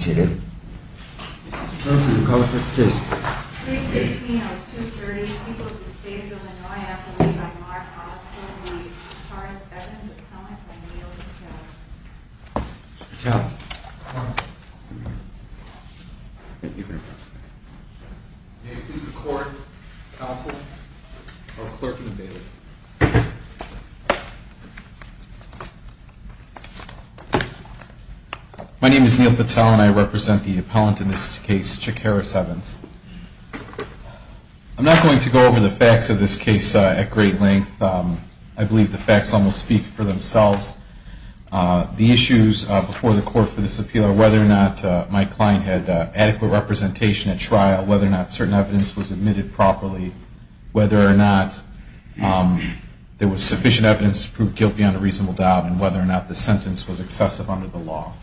May it please the court, counsel, clerk and the bailiff. My name is Neil Patel and I represent the appellant in this case, Chick Harris Evans. I'm not going to go over the facts of this case at great length. I believe the facts almost speak for themselves. The issues before the court for this appeal are whether or not my client had adequate representation at trial, whether or not certain evidence was admitted properly, whether or not there was sufficient evidence to prove guilt beyond a reasonable doubt, and whether or not the sentence was excessive under the law.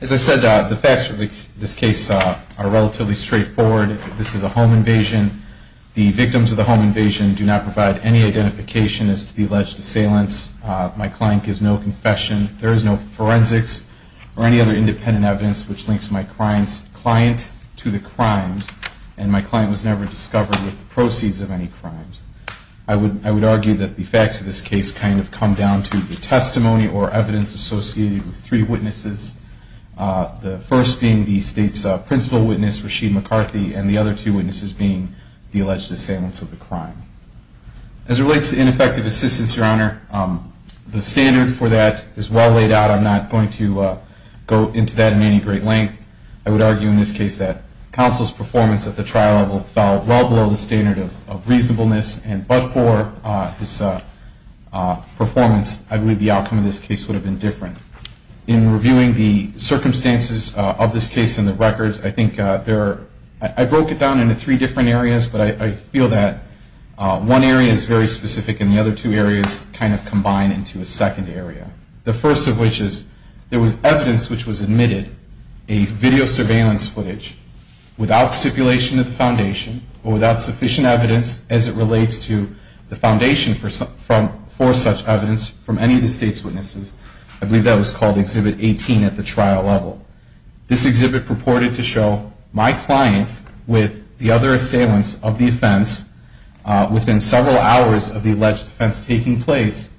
As I said, the facts for this case are relatively straightforward. This is a home invasion. The victims of the home invasion do not provide any identification as to the alleged assailants. My client gives no confession. There is no forensics or any other independent evidence which links my client to the crimes, and my client was never discovered with the proceeds of any crimes. I would argue that the facts of this case kind of come down to the testimony or evidence associated with three witnesses, the first being the state's principal witness, Rasheed McCarthy, and the other two witnesses being the alleged assailants of the crime. As it relates to ineffective assistance, Your Honor, the standard for that is well laid out. I'm not going to go into that in any great length. I would argue in this case that counsel's performance at the trial level fell well below the standard of reasonableness, and but for his performance, I believe the outcome of this case would have been different. In reviewing the circumstances of this case in the records, I think there are, I broke it down into three different areas, but I feel that one area is very specific and the other two areas kind of combine into a second area. The first of which is there was evidence which was admitted, a video surveillance footage, without stipulation of the foundation or without sufficient evidence as it relates to the foundation for such evidence from any of the state's witnesses. I believe that was called Exhibit 18 at the trial level. This exhibit purported to show my client with the other assailants of the offense within several hours of the alleged offense taking place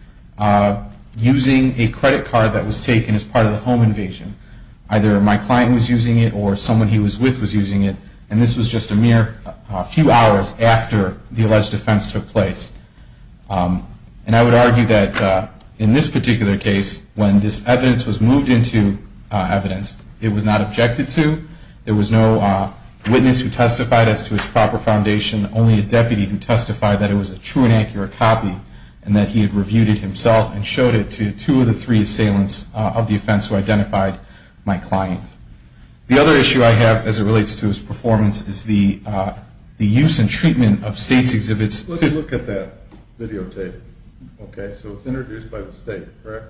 using a credit card that was taken as part of the home invasion. Either my client was using it or someone he was with was using it, and this was just a mere few hours after the alleged offense took place. And I would argue that in this particular case, when this evidence was moved into evidence, it was not objected to. There was no witness who testified as to its proper foundation, only a deputy who testified that it was a true and accurate copy and that he had reviewed it himself and showed it to two of the three assailants of the offense who identified my client. The other issue I have as it relates to his performance is the use and treatment of state's exhibits. Let me look at that videotape. Okay, so it's introduced by the state, correct?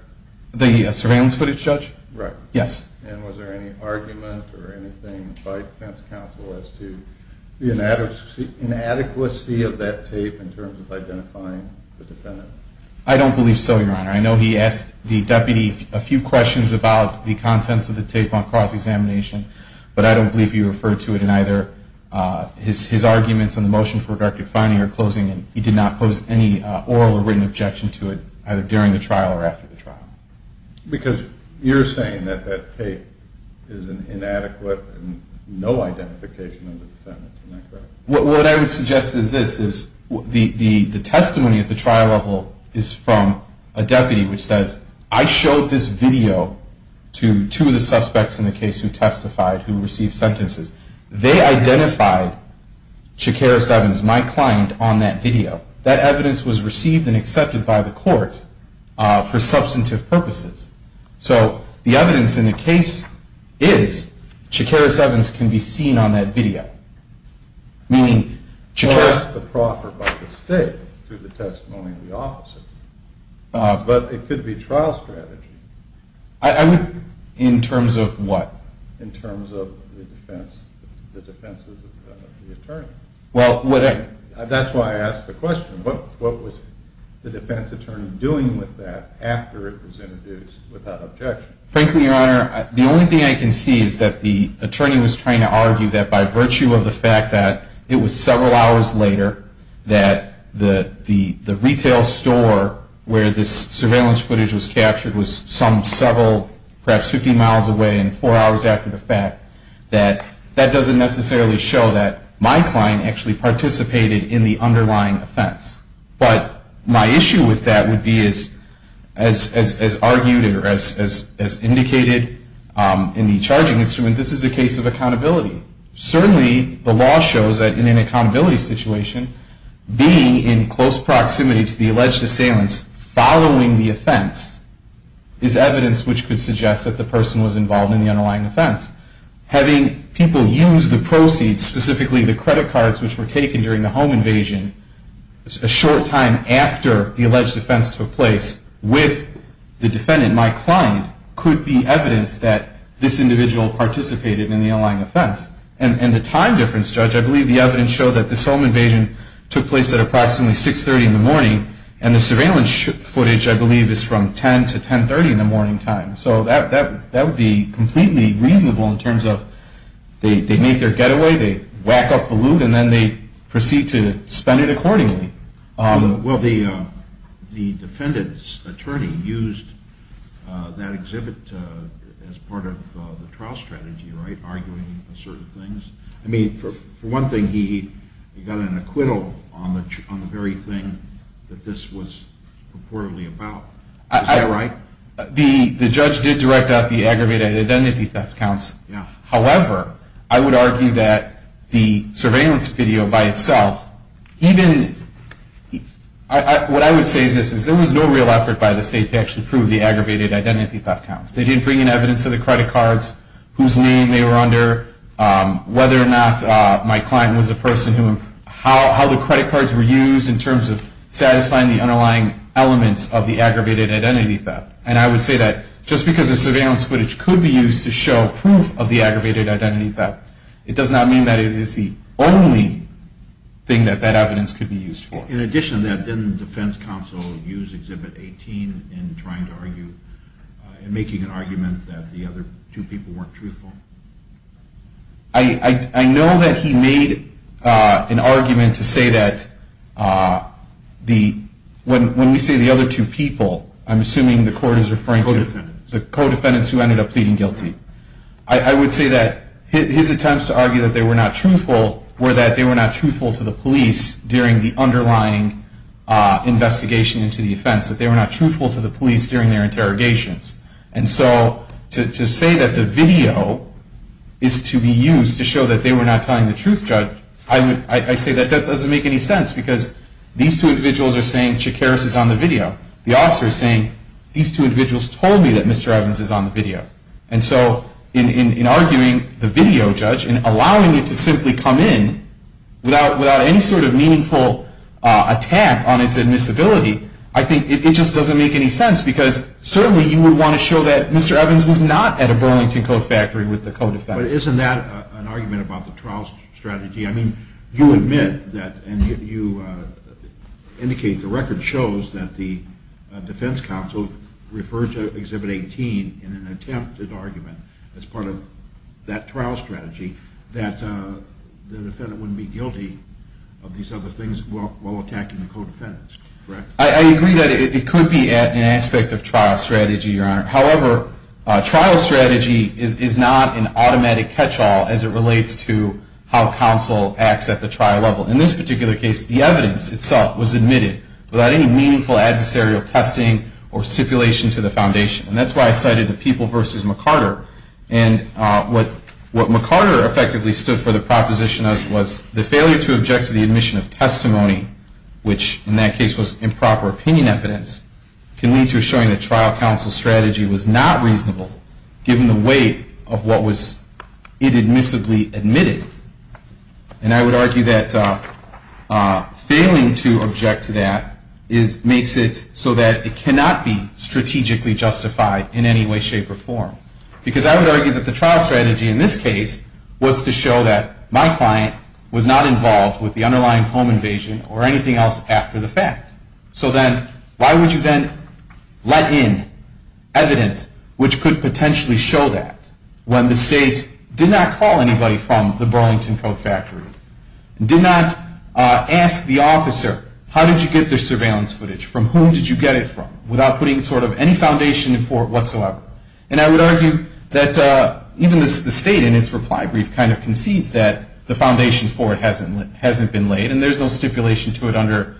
The surveillance footage, Judge? Right. Yes. And was there any argument or anything by defense counsel as to the inadequacy of that tape in terms of identifying the defendant? I don't believe so, Your Honor. I know he asked the deputy a few questions about the contents of the tape on cross-examination, but I don't believe he referred to it in either his arguments on the motion for redacted finding or closing, and he did not pose any oral or written objection to it either during the trial or after the trial. Because you're saying that that tape is an inadequate and no identification of the defendant, isn't that correct? What I would suggest is this, is the testimony at the trial level is from a deputy which says, I showed this video to two of the suspects in the case who testified who received sentences. They identified Shakaris Evans, my client, on that video. That evidence was received and accepted by the court for substantive purposes. So the evidence in the case is Shakaris Evans can be seen on that video. Meaning Shakaris the proffer by the state through the testimony of the officers. But it could be trial strategy. In terms of what? In terms of the defenses of the attorney. That's why I asked the question, what was the defense attorney doing with that after it was introduced without objection? Frankly, Your Honor, the only thing I can see is that the attorney was trying to argue that by virtue of the fact that it was several hours later that the retail store where this surveillance footage was captured was some several, perhaps 50 miles away and four hours after the fact, that that doesn't necessarily show that my client actually participated in the underlying offense. But my issue with that would be as argued or as indicated in the charging instrument, this is a case of accountability. Certainly the law shows that in an accountability situation, being in close proximity to the alleged assailants following the offense is evidence which could suggest that the person was involved in the underlying offense. Having people use the proceeds, specifically the credit cards which were taken during the home invasion, a short time after the alleged offense took place with the defendant, my client, could be evidence that this individual participated in the underlying offense. And the time difference, Judge, I believe the evidence showed that this home invasion took place at approximately 630 in the morning and the surveillance footage, I believe, is from 10 to 1030 in the morning time. So that would be completely reasonable in terms of they make their getaway, they whack up the loot, and then they proceed to spend it accordingly. Well, the defendant's attorney used that exhibit as part of the trial strategy, right, arguing certain things. I mean, for one thing, he got an acquittal on the very thing that this was reportedly about. Is that right? The judge did direct out the aggravated identity theft counts. However, I would argue that the surveillance video by itself, even, what I would say is this, is there was no real effort by the state to actually prove the aggravated identity theft counts. They did bring in evidence of the credit cards, whose name they were under, whether or not my client was a person who, how the credit cards were used in terms of satisfying the underlying elements of the aggravated identity theft. And I would say that just because the surveillance footage could be used to show proof of the aggravated identity theft, it does not mean that it is the only thing that that evidence could be used for. In addition to that, didn't the defense counsel use exhibit 18 in trying to argue, in making an argument that the other two people weren't truthful? I know that he made an argument to say that when we say the other two people, I'm assuming the court is referring to the co-defendants who ended up pleading guilty. I would say that his attempts to argue that they were not truthful were that they were not truthful to the police during the underlying investigation into the offense, that they were not truthful to the police during their interrogations. And so to say that the video is to be used to show that they were not telling the truth, Judge, I say that that doesn't make any sense because these two individuals are saying, Mr. Shakaris is on the video. The officer is saying, these two individuals told me that Mr. Evans is on the video. And so in arguing the video, Judge, and allowing it to simply come in without any sort of meaningful attack on its admissibility, I think it just doesn't make any sense because certainly you would want to show that Mr. Evans was not at a Burlington Coat Factory with the co-defendants. But isn't that an argument about the trial strategy? I mean, you admit that and you indicate the record shows that the defense counsel referred to Exhibit 18 in an attempted argument as part of that trial strategy that the defendant wouldn't be guilty of these other things while attacking the co-defendants, correct? I agree that it could be an aspect of trial strategy, Your Honor. However, trial strategy is not an automatic catch-all as it relates to how counsel acts at the trial level. In this particular case, the evidence itself was admitted without any meaningful adversarial testing or stipulation to the foundation. And that's why I cited the People v. McCarter. And what McCarter effectively stood for the proposition as was the failure to object to the admission of testimony, which in that case was improper opinion evidence, can lead to a showing that trial counsel's strategy was not reasonable given the weight of what was inadmissibly admitted. And I would argue that failing to object to that makes it so that it cannot be strategically justified in any way, shape, or form. Because I would argue that the trial strategy in this case was to show that my client was not involved with the underlying home invasion or anything else after the fact. So then why would you then let in evidence which could potentially show that when the state did not call anybody from the Burlington Coat Factory, did not ask the officer how did you get their surveillance footage, from whom did you get it from, without putting sort of any foundation for it whatsoever. And I would argue that even the state in its reply brief kind of concedes that the foundation for it hasn't been laid and there's no stipulation to it under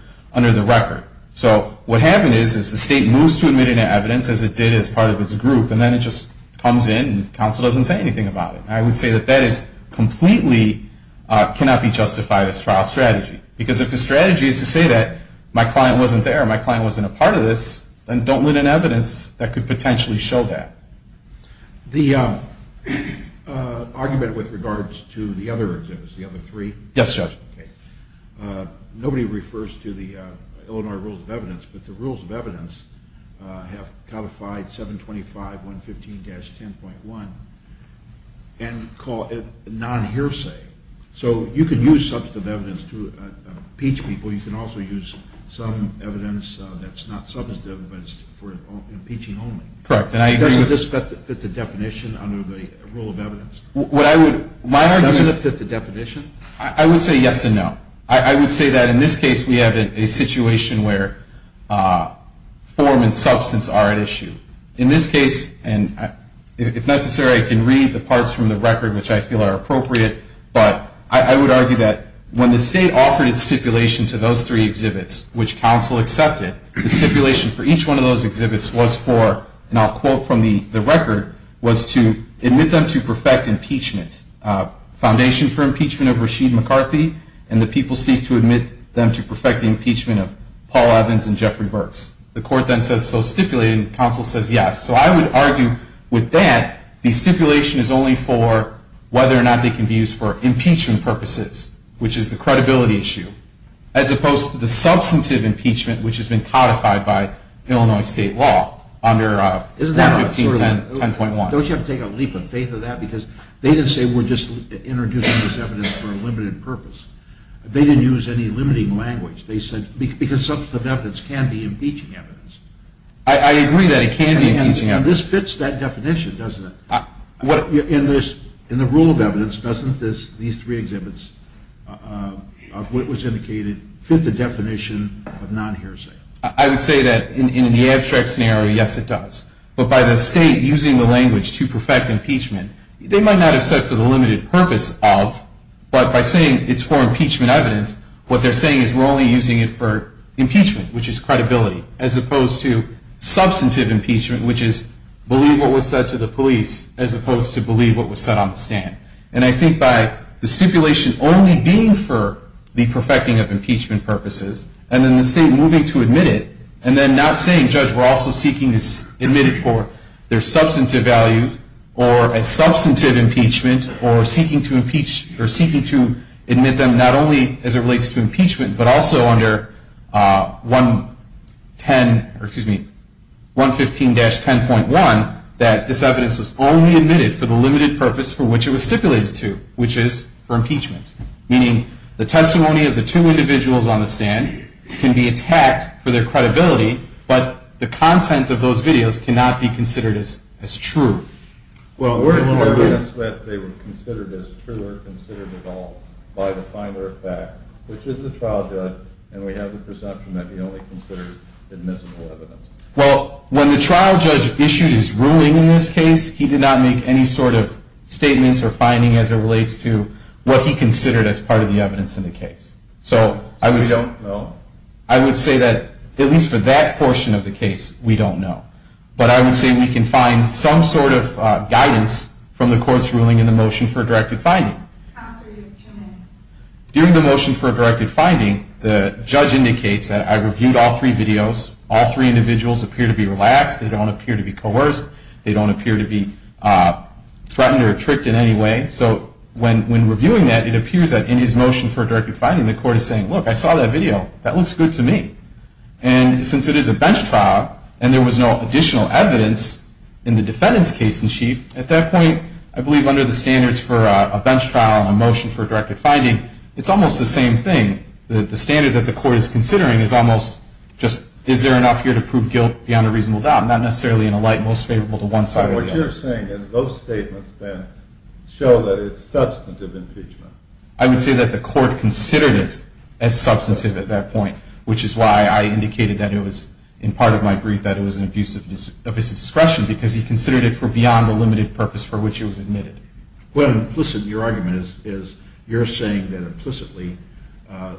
the record. So what happened is the state moves to admitting evidence as it did as part of its group, and then it just comes in and counsel doesn't say anything about it. And I would say that that completely cannot be justified as trial strategy. Because if the strategy is to say that my client wasn't there, my client wasn't a part of this, then don't let in evidence that could potentially show that. The argument with regards to the other exhibits, the other three. Yes, Judge. Nobody refers to the Illinois Rules of Evidence, but the Rules of Evidence have codified 725.115-10.1 and call it non-hearsay. So you can use substantive evidence to impeach people, you can also use some evidence that's not substantive but is for impeaching only. Correct. Doesn't this fit the definition under the Rule of Evidence? What I would, my argument. Doesn't it fit the definition? I would say yes and no. I would say that in this case we have a situation where form and substance are at issue. In this case, and if necessary I can read the parts from the record which I feel are appropriate, but I would argue that when the state offered its stipulation to those three exhibits, which counsel accepted, the stipulation for each one of those exhibits was for, and I'll quote from the record, was to admit them to perfect impeachment. Foundation for impeachment of Rasheed McCarthy and the people seek to admit them to perfecting impeachment of Paul Evans and Jeffrey Burks. The court then says so stipulated and counsel says yes. So I would argue with that the stipulation is only for whether or not they can be used for impeachment purposes, which is the credibility issue. As opposed to the substantive impeachment which has been codified by Illinois state law under 1510.1. Don't you have to take a leap of faith of that? Because they didn't say we're just introducing this evidence for a limited purpose. They didn't use any limiting language. They said because substantive evidence can be impeaching evidence. I agree that it can be impeaching evidence. And this fits that definition, doesn't it? In the rule of evidence, doesn't these three exhibits of what was indicated fit the definition of non-hearsay? I would say that in the abstract scenario, yes, it does. But by the state using the language to perfect impeachment, they might not have said for the limited purpose of, but by saying it's for impeachment evidence, what they're saying is we're only using it for impeachment, which is credibility, as opposed to substantive impeachment, which is believe what was said to the police, as opposed to believe what was said on the stand. And I think by the stipulation only being for the perfecting of impeachment purposes, and then the state moving to admit it, and then not saying, judge, we're also seeking to admit it for their substantive value, or a substantive impeachment, or seeking to admit them not only as it relates to impeachment, but also under 115-10.1, that this evidence was only admitted for the limited purpose for which it was stipulated to, which is for impeachment. Meaning the testimony of the two individuals on the stand can be attacked for their credibility, but the content of those videos cannot be considered as true. Or evidence that they were considered as true or considered at all by the finder of fact, which is the trial judge, and we have the presumption that he only considered admissible evidence. Well, when the trial judge issued his ruling in this case, he did not make any sort of statements or finding as it relates to what he considered as part of the evidence in the case. So I would say that, at least for that portion of the case, we don't know. But I would say we can find some sort of guidance from the court's ruling in the motion for a directed finding. During the motion for a directed finding, the judge indicates that I reviewed all three videos. All three individuals appear to be relaxed. They don't appear to be coerced. They don't appear to be threatened or tricked in any way. So when reviewing that, it appears that in his motion for a directed finding, the court is saying, look, I saw that video. That looks good to me. And since it is a bench trial and there was no additional evidence in the defendant's case in chief, at that point, I believe under the standards for a bench trial and a motion for a directed finding, it's almost the same thing. The standard that the court is considering is almost just is there enough here to prove guilt beyond a reasonable doubt, not necessarily in a light most favorable to one side or the other. So what you're saying is those statements then show that it's substantive impeachment. I would say that the court considered it as substantive at that point, which is why I indicated that it was in part of my brief that it was an abuse of his discretion because he considered it for beyond the limited purpose for which it was admitted. Well, implicit in your argument is you're saying that implicitly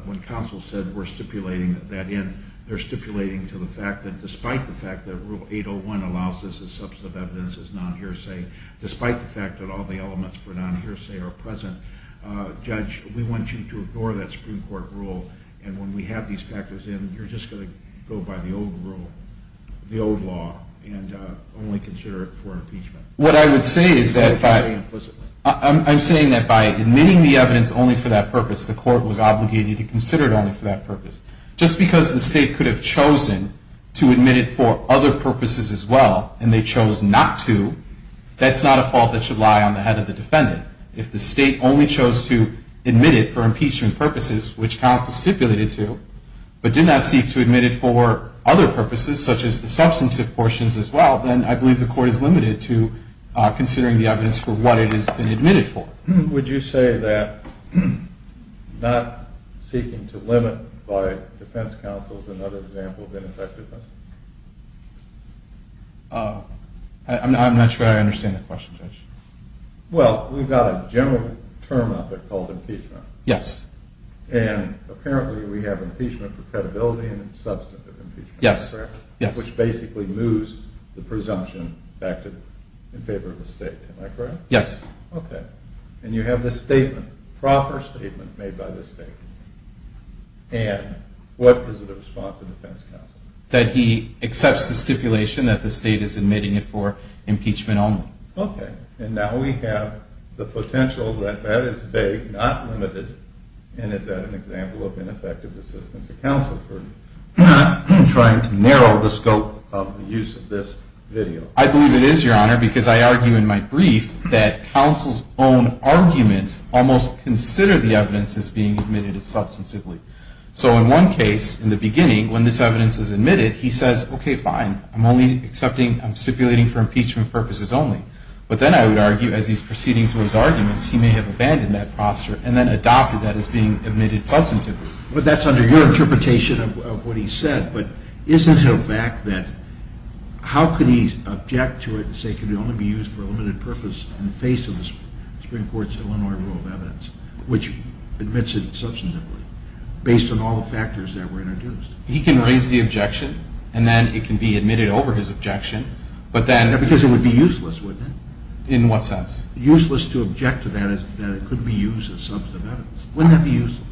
when counsel said we're stipulating that in, they're stipulating to the fact that despite the fact that Rule 801 allows this as substantive evidence as non-hearsay, despite the fact that all the elements for non-hearsay are present, Judge, we want you to ignore that Supreme Court rule. And when we have these factors in, you're just going to go by the old rule, the old law, and only consider it for impeachment. What I would say is that I'm saying that by admitting the evidence only for that purpose, the court was obligated to consider it only for that purpose. Just because the state could have chosen to admit it for other purposes as well and they chose not to, that's not a fault that should lie on the head of the defendant. If the state only chose to admit it for impeachment purposes, which counsel stipulated to, but did not seek to admit it for other purposes such as the substantive portions as well, then I believe the court is limited to considering the evidence for what it has been admitted for. Would you say that not seeking to limit by defense counsel is another example of ineffectiveness? I'm not sure I understand the question, Judge. Well, we've got a general term out there called impeachment. Yes. And apparently we have impeachment for credibility and substantive impeachment. Yes. Which basically moves the presumption back in favor of the state. Am I correct? Yes. Okay. And you have this statement, proffer statement made by the state. And what is the response of defense counsel? That he accepts the stipulation that the state is admitting it for impeachment only. Okay. And now we have the potential that that is vague, not limited, and is that an example of ineffective assistance of counsel for trying to narrow the scope of the use of this video? I believe it is, Your Honor, because I argue in my brief that counsel's own arguments almost consider the evidence as being admitted substantively. So in one case, in the beginning, when this evidence is admitted, he says, okay, fine. I'm only accepting, I'm stipulating for impeachment purposes only. But then I would argue as he's proceeding through his arguments, he may have abandoned that posture and then adopted that as being admitted substantively. But that's under your interpretation of what he said. But isn't it a fact that how could he object to it and say it can only be used for a limited purpose in the face of the Supreme Court's Illinois rule of evidence, which admits it substantively, based on all the factors that were introduced? He can raise the objection, and then it can be admitted over his objection. Because it would be useless, wouldn't it? In what sense? Useless to object to that is that it could be used as substantive evidence. Wouldn't that be useful?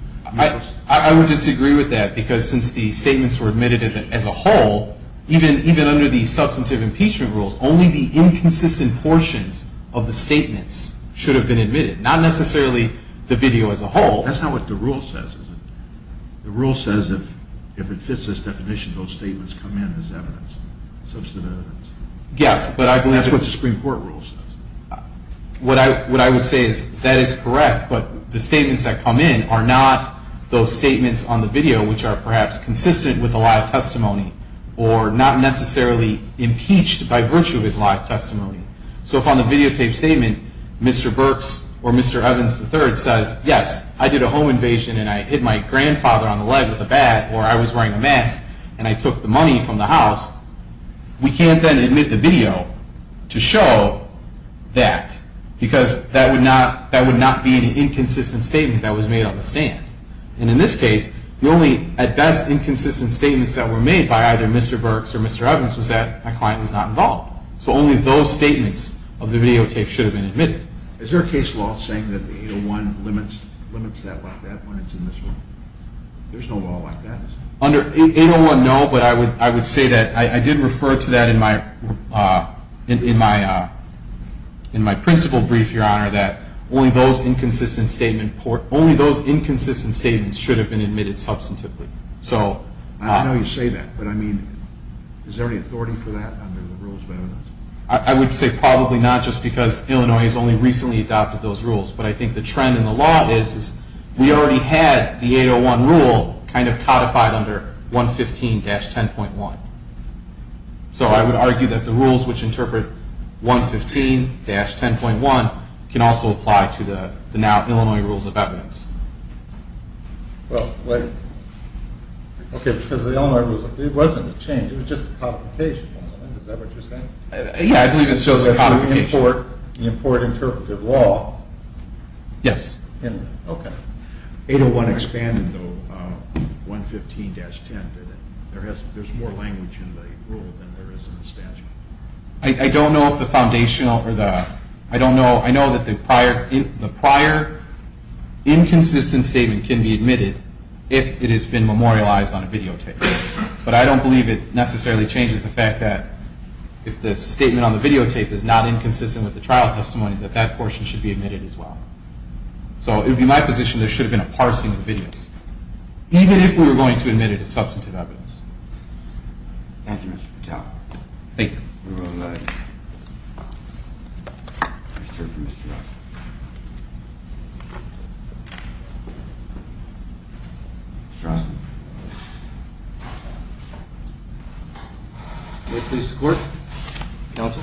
I would disagree with that, because since the statements were admitted as a whole, even under the substantive impeachment rules, only the inconsistent portions of the statements should have been admitted, not necessarily the video as a whole. That's not what the rule says, is it? The rule says if it fits this definition, those statements come in as evidence, substantive evidence. Yes, but I believe that's what the Supreme Court rule says. What I would say is that is correct, but the statements that come in are not those statements on the video which are perhaps consistent with the live testimony or not necessarily impeached by virtue of his live testimony. So if on the videotape statement, Mr. Burks or Mr. Evans III says, yes, I did a home invasion and I hit my grandfather on the leg with a bat, or I was wearing a mask and I took the money from the house, we can't then admit the video to show that, because that would not be an inconsistent statement that was made on the stand. And in this case, the only, at best, inconsistent statements that were made by either Mr. Burks or Mr. Evans was that a client was not involved. So only those statements of the videotape should have been admitted. Is there a case law saying that 801 limits that like that when it's in this room? There's no law like that, is there? Under 801, no, but I would say that I did refer to that in my principal brief, Your Honor, that only those inconsistent statements should have been admitted substantively. I know you say that, but I mean, is there any authority for that under the rules of evidence? I would say probably not just because Illinois has only recently adopted those rules, but I think the trend in the law is we already had the 801 rule kind of codified under 115-10.1. So I would argue that the rules which interpret 115-10.1 can also apply to the now Illinois rules of evidence. Well, wait. Okay, because the Illinois rules, it wasn't a change. It was just a codification. Is that what you're saying? Yeah, I believe it's just a codification. The import interpretive law. Yes. Okay. 801 expanded, though, 115-10. There's more language in the rule than there is in the statute. I don't know if the foundational or the – I know that the prior inconsistent statement can be admitted if it has been memorialized on a videotape, but I don't believe it necessarily changes the fact that if the statement on the videotape is not inconsistent with the trial testimony, that that portion should be admitted as well. So it would be my position there should have been a parsing of the videos, even if we were going to admit it as substantive evidence. Thank you, Mr. Patel. Thank you. You're welcome. Mr. Osmond. May it please the Court? Counsel.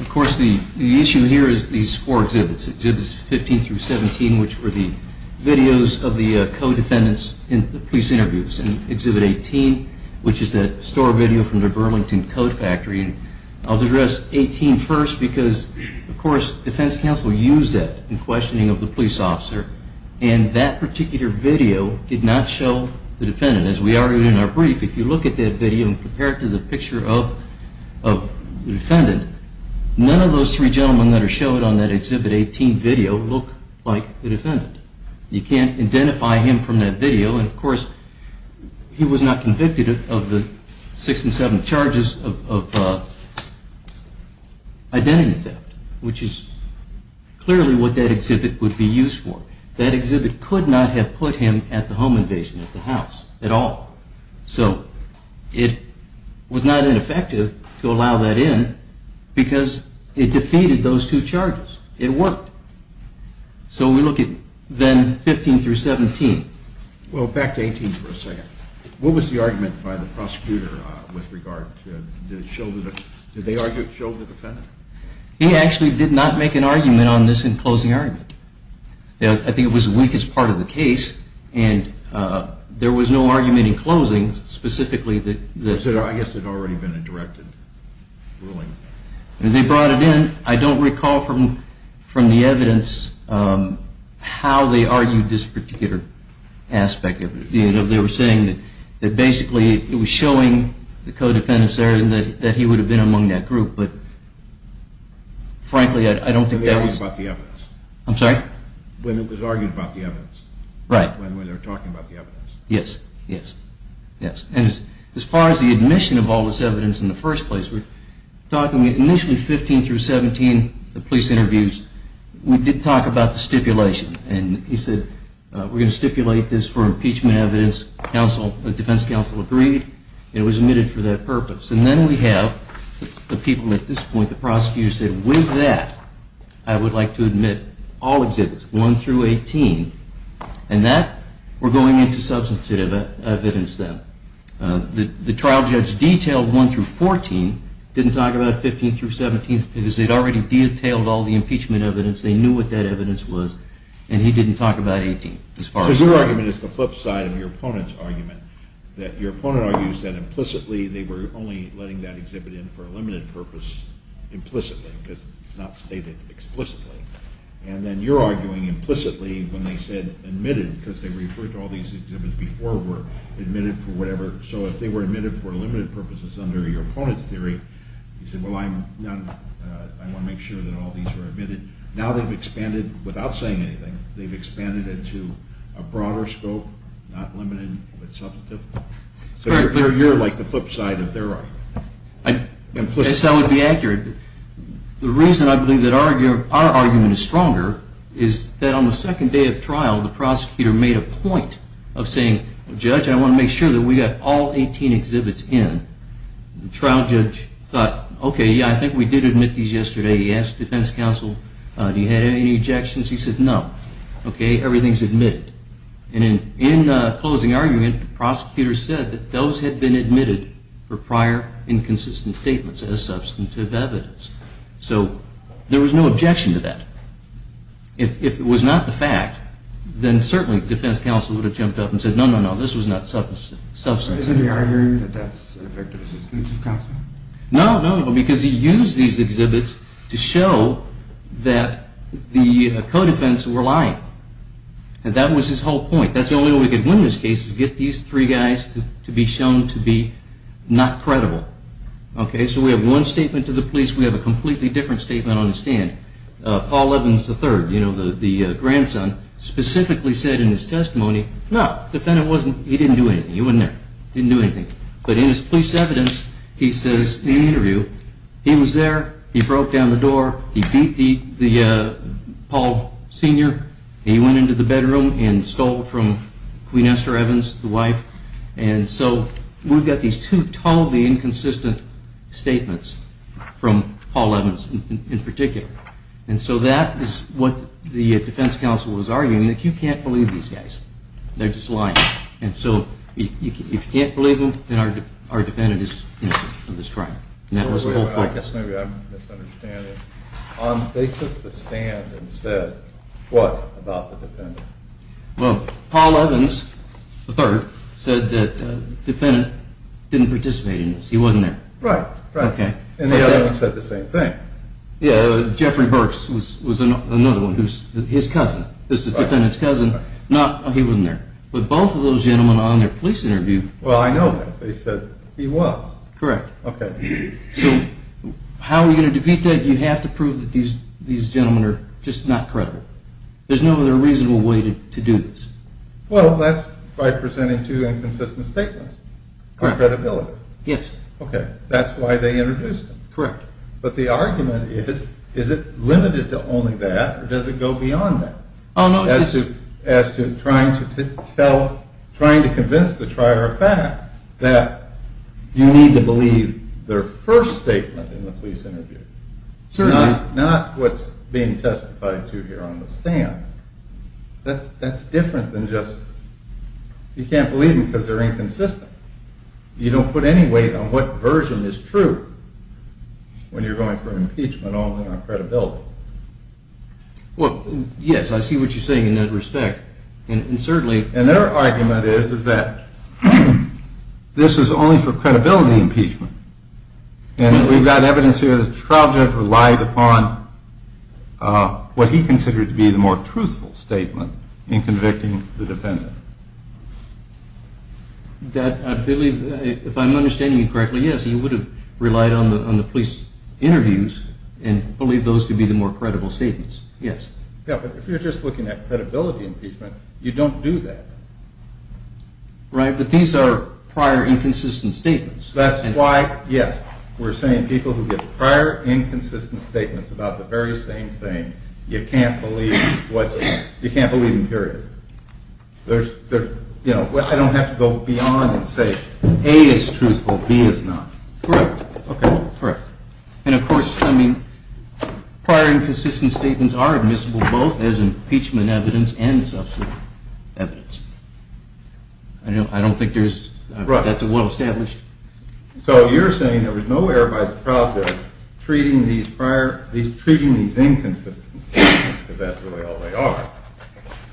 Of course, the issue here is these four exhibits. Exhibits 15 through 17, which were the videos of the co-defendants in the police interviews, and exhibit 18, which is that store video from the Burlington Coat Factory. I'll address 18 first because, of course, defense counsel used that in questioning of the police officer, and that particular video did not show the defendant. As we argued in our brief, if you look at that video and compare it to the picture of the defendant, none of those three gentlemen that are showed on that exhibit 18 video look like the defendant. You can't identify him from that video, and, of course, he was not convicted of the six and seven charges of identity theft, which is clearly what that exhibit would be used for. That exhibit could not have put him at the home invasion at the house at all. So it was not ineffective to allow that in because it defeated those two charges. It worked. So we look at then 15 through 17. Well, back to 18 for a second. What was the argument by the prosecutor with regard to the show of the defendant? He actually did not make an argument on this in closing argument. I think it was the weakest part of the case, and there was no argument in closing specifically. I guess there had already been a directed ruling. They brought it in. I don't recall from the evidence how they argued this particular aspect. They were saying that basically it was showing the co-defendants there that he would have been among that group, but, frankly, I don't think that was— When they argued about the evidence. I'm sorry? When it was argued about the evidence. Right. When they were talking about the evidence. Yes, yes, yes. And as far as the admission of all this evidence in the first place, we're talking initially 15 through 17, the police interviews, we did talk about the stipulation. And he said, we're going to stipulate this for impeachment evidence. The defense counsel agreed, and it was admitted for that purpose. And then we have the people at this point, the prosecutor, who said, with that, I would like to admit all exhibits, 1 through 18, and that we're going into substantive evidence then. The trial judge detailed 1 through 14, didn't talk about 15 through 17, because they'd already detailed all the impeachment evidence. They knew what that evidence was, and he didn't talk about 18. So your argument is the flip side of your opponent's argument, that your opponent argues that implicitly they were only letting that exhibit in for a limited purpose implicitly, because it's not stated explicitly. And then you're arguing implicitly when they said admitted, because they referred to all these exhibits before were admitted for whatever. So if they were admitted for limited purposes under your opponent's theory, you said, well, I want to make sure that all these were admitted. Now they've expanded, without saying anything, they've expanded it to a broader scope, not limited, but substantive. So you're like the flip side of their argument. Yes, I would be accurate. The reason I believe that our argument is stronger is that on the second day of trial, the prosecutor made a point of saying, judge, I want to make sure that we got all 18 exhibits in. The trial judge thought, OK, yeah, I think we did admit these yesterday. He asked defense counsel, do you have any objections? He said, no. OK, everything's admitted. And in closing argument, the prosecutor said that those had been admitted for prior inconsistent statements as substantive evidence. So there was no objection to that. If it was not the fact, then certainly defense counsel would have jumped up and said, no, no, no, this was not substantive. Isn't he arguing that that's an effective assistance of counsel? No, no, because he used these exhibits to show that the co-defense were lying. And that was his whole point. That's the only way we could win this case, is get these three guys to be shown to be not credible. OK, so we have one statement to the police. We have a completely different statement on the stand. Paul Evans III, you know, the grandson, specifically said in his testimony, no, the defendant didn't do anything. He wasn't there. He didn't do anything. But in his police evidence, he says in the interview, he was there, he broke down the door, he beat the Paul senior, he went into the bedroom and stole from Queen Esther Evans, the wife. And so we've got these two totally inconsistent statements from Paul Evans in particular. And so that is what the defense counsel was arguing, that you can't believe these guys. They're just lying. And so if you can't believe them, then our defendant is innocent of this crime. I guess maybe I'm misunderstanding. They took the stand and said what about the defendant? Well, Paul Evans III said that the defendant didn't participate in this. He wasn't there. Right, right. And the other one said the same thing. Yeah, Jeffrey Burks was another one, his cousin. This is the defendant's cousin. He wasn't there. But both of those gentlemen on their police interview. Well, I know that. They said he was. Correct. Okay. So how are you going to defeat that? You have to prove that these gentlemen are just not credible. There's no other reasonable way to do this. Well, that's by presenting two inconsistent statements on credibility. Yes. Okay. That's why they introduced them. Correct. But the argument is, is it limited to only that or does it go beyond that? As to trying to convince the trier of fact that you need to believe their first statement in the police interview. Certainly. Not what's being testified to here on the stand. That's different than just you can't believe them because they're inconsistent. You don't put any weight on what version is true when you're going for impeachment only on credibility. Well, yes, I see what you're saying in that respect. And certainly. And their argument is, is that this is only for credibility impeachment. And we've got evidence here that the trial judge relied upon what he considered to be the more truthful statement in convicting the defendant. That I believe, if I'm understanding you correctly, yes, he would have relied on the police interviews and believed those to be the more credible statements. Yes. Yeah, but if you're just looking at credibility impeachment, you don't do that. Right. But these are prior inconsistent statements. That's why, yes, we're saying people who give prior inconsistent statements about the very same thing, you can't believe what's, you can't believe them, period. There's, you know, I don't have to go beyond and say A is truthful, B is not. Correct. Okay, correct. And of course, I mean, prior inconsistent statements are admissible both as impeachment evidence and substantive evidence. I don't think there's, that's a well established. So you're saying there was no error by the trial judge treating these prior, at least treating these inconsistent statements, because that's really all they are,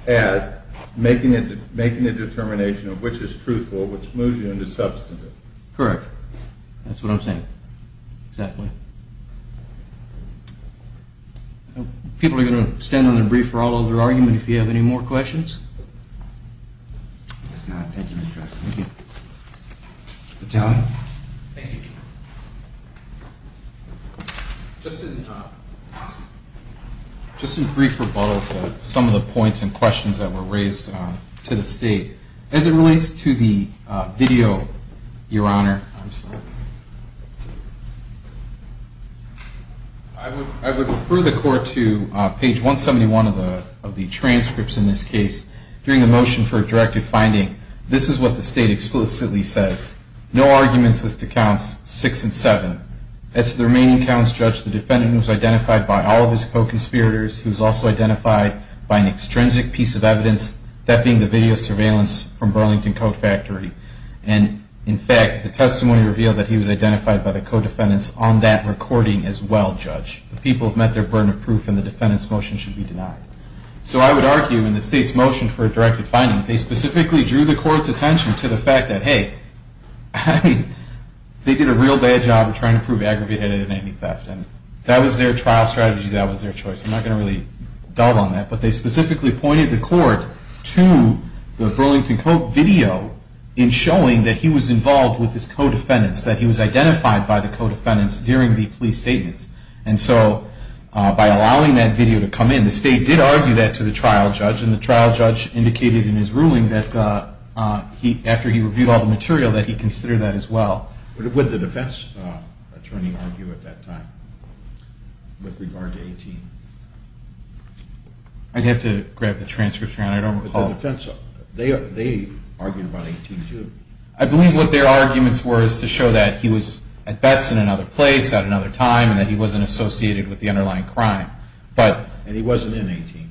as making a determination of which is truthful, which moves you into substantive. Correct. That's what I'm saying. Exactly. People are going to stand on their brief for all of their argument if you have any more questions. If there's none, thank you, Mr. Justice. Thank you. Thank you. Just in brief rebuttal to some of the points and questions that were raised to the State, as it relates to the video, Your Honor, I'm sorry. I would refer the Court to page 171 of the transcripts in this case. During the motion for a directive finding, this is what the State explicitly says. No arguments as to counts 6 and 7. As to the remaining counts, Judge, the defendant was identified by all of his co-conspirators. He was also identified by an extrinsic piece of evidence, that being the video surveillance from Burlington Coat Factory. And, in fact, the testimony revealed that he was identified by the co-defendants on that recording as well, Judge. The people have met their burden of proof, and the defendant's motion should be denied. So I would argue, in the State's motion for a directive finding, they specifically drew the Court's attention to the fact that, hey, they did a real bad job of trying to prove Aggravated Inanimate Theft. And that was their trial strategy. That was their choice. I'm not going to really delve on that. But they specifically pointed the Court to the Burlington Coat video in showing that he was involved with his co-defendants, that he was identified by the co-defendants during the plea statements. And so, by allowing that video to come in, the State did argue that to the trial judge. And the trial judge indicated in his ruling that, after he reviewed all the material, that he considered that as well. Would the defense attorney argue at that time with regard to 18? I'd have to grab the transcripts, Your Honor. I don't recall. But the defense, they argued about 18 too. I believe what their arguments were is to show that he was, at best, in another place at another time, and that he wasn't associated with the underlying crime. And he wasn't in 18?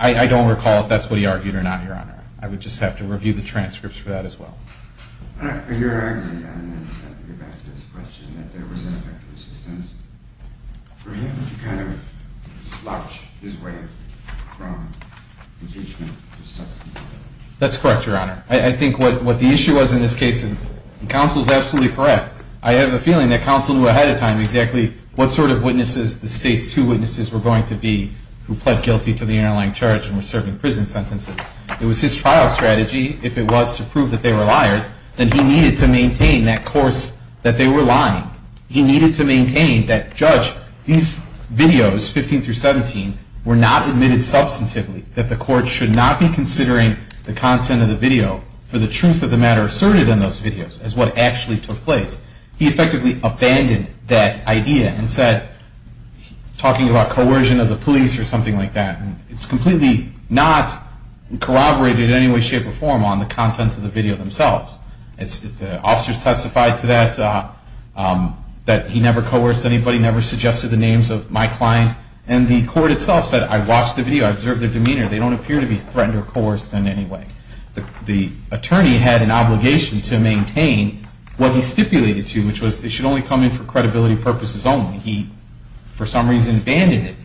I don't recall if that's what he argued or not, Your Honor. I would just have to review the transcripts for that as well. Your Honor, I'm going to go back to this question, that there was ineffective assistance. For him to kind of slouch his way from impeachment to subpoena. That's correct, Your Honor. I think what the issue was in this case, and counsel is absolutely correct, I have a feeling that counsel knew ahead of time exactly what sort of witnesses the State's two witnesses were going to be who pled guilty to the underlying charge and were serving prison sentences. It was his trial strategy, if it was to prove that they were liars, that he needed to maintain that course that they were lying. He needed to maintain that, Judge, these videos, 15 through 17, were not admitted substantively, that the court should not be considering the content of the video for the truth of the matter asserted in those videos as what actually took place. He effectively abandoned that idea and said, talking about coercion of the police or something like that. It's completely not corroborated in any way, shape, or form on the contents of the video themselves. The officers testified to that, that he never coerced anybody, never suggested the names of my client. And the court itself said, I watched the video. I observed their demeanor. They don't appear to be threatened or coerced in any way. The attorney had an obligation to maintain what he stipulated to, which was they should only come in for credibility purposes only. He, for some reason, abandoned it.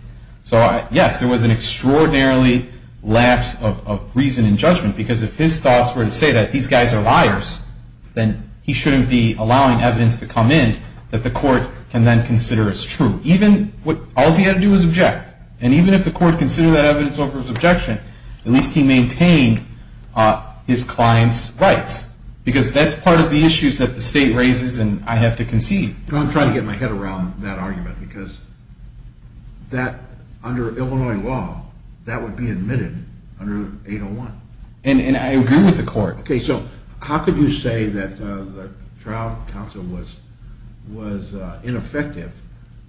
So, yes, there was an extraordinarily lapse of reason and judgment, because if his thoughts were to say that these guys are liars, then he shouldn't be allowing evidence to come in that the court can then consider as true. All he had to do was object. And even if the court considered that evidence over his objection, at least he maintained his client's rights, because that's part of the issues that the state raises and I have to concede. See, don't try to get my head around that argument, because that, under Illinois law, that would be admitted under 801. And I agree with the court. Okay, so how could you say that the trial counsel was ineffective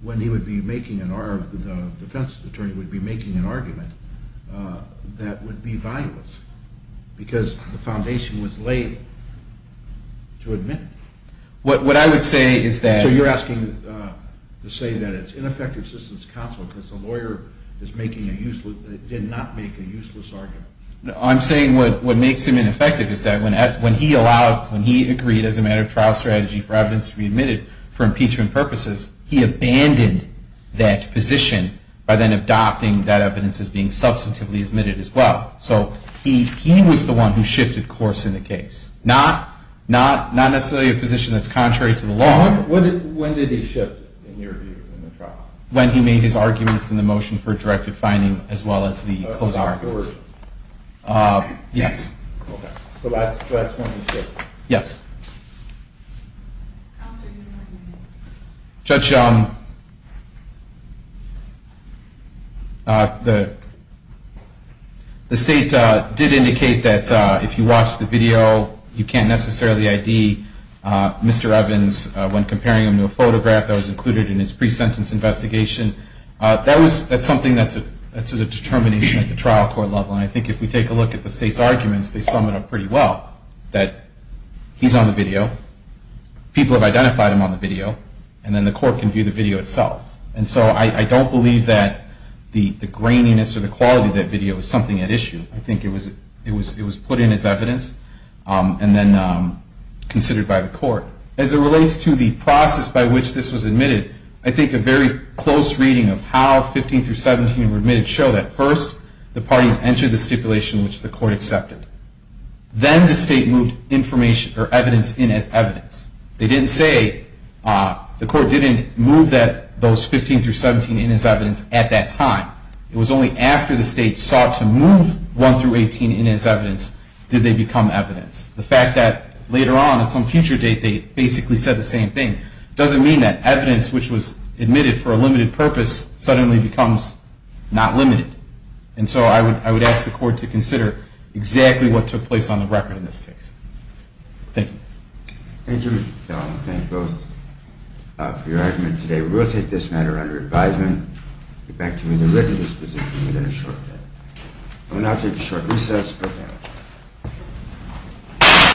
when he would be making an argument, the defense attorney would be making an argument, that would be valueless, because the foundation was laid to admit it. What I would say is that... So you're asking to say that it's ineffective assistance to counsel because the lawyer did not make a useless argument. No, I'm saying what makes him ineffective is that when he allowed, when he agreed as a matter of trial strategy for evidence to be admitted for impeachment purposes, he abandoned that position by then adopting that evidence as being substantively admitted as well. So he was the one who shifted course in the case. Not necessarily a position that's contrary to the law. When did he shift, in your view, in the trial? When he made his arguments in the motion for directive finding as well as the closing arguments. Okay. Yes. Okay. So that's when he shifted. Yes. Counsel, do you have anything to add? Judge, the state did indicate that if you watch the video, you can't necessarily ID Mr. Evans when comparing him to a photograph that was included in his pre-sentence investigation. That's something that's a determination at the trial court level, and I think if we take a look at the state's arguments, they sum it up pretty well, that he's on the video, people have identified him on the video, and then the court can view the video itself. And so I don't believe that the graininess or the quality of that video is something at issue. I think it was put in as evidence and then considered by the court. As it relates to the process by which this was admitted, I think a very close reading of how 15 through 17 were admitted show that first the parties entered the stipulation which the court accepted. Then the state moved evidence in as evidence. They didn't say the court didn't move those 15 through 17 in as evidence at that time. It was only after the state sought to move 1 through 18 in as evidence did they become evidence. The fact that later on at some future date they basically said the same thing doesn't mean that evidence which was admitted for a limited purpose suddenly becomes not limited. And so I would ask the court to consider exactly what took place on the record in this case. Thank you. Thank you, Mr. Tallman. Thank you both for your argument today. We will take this matter under advisement. Get back to me when you're ready. This position will be in a short bit. We will now take a short recess. Good day.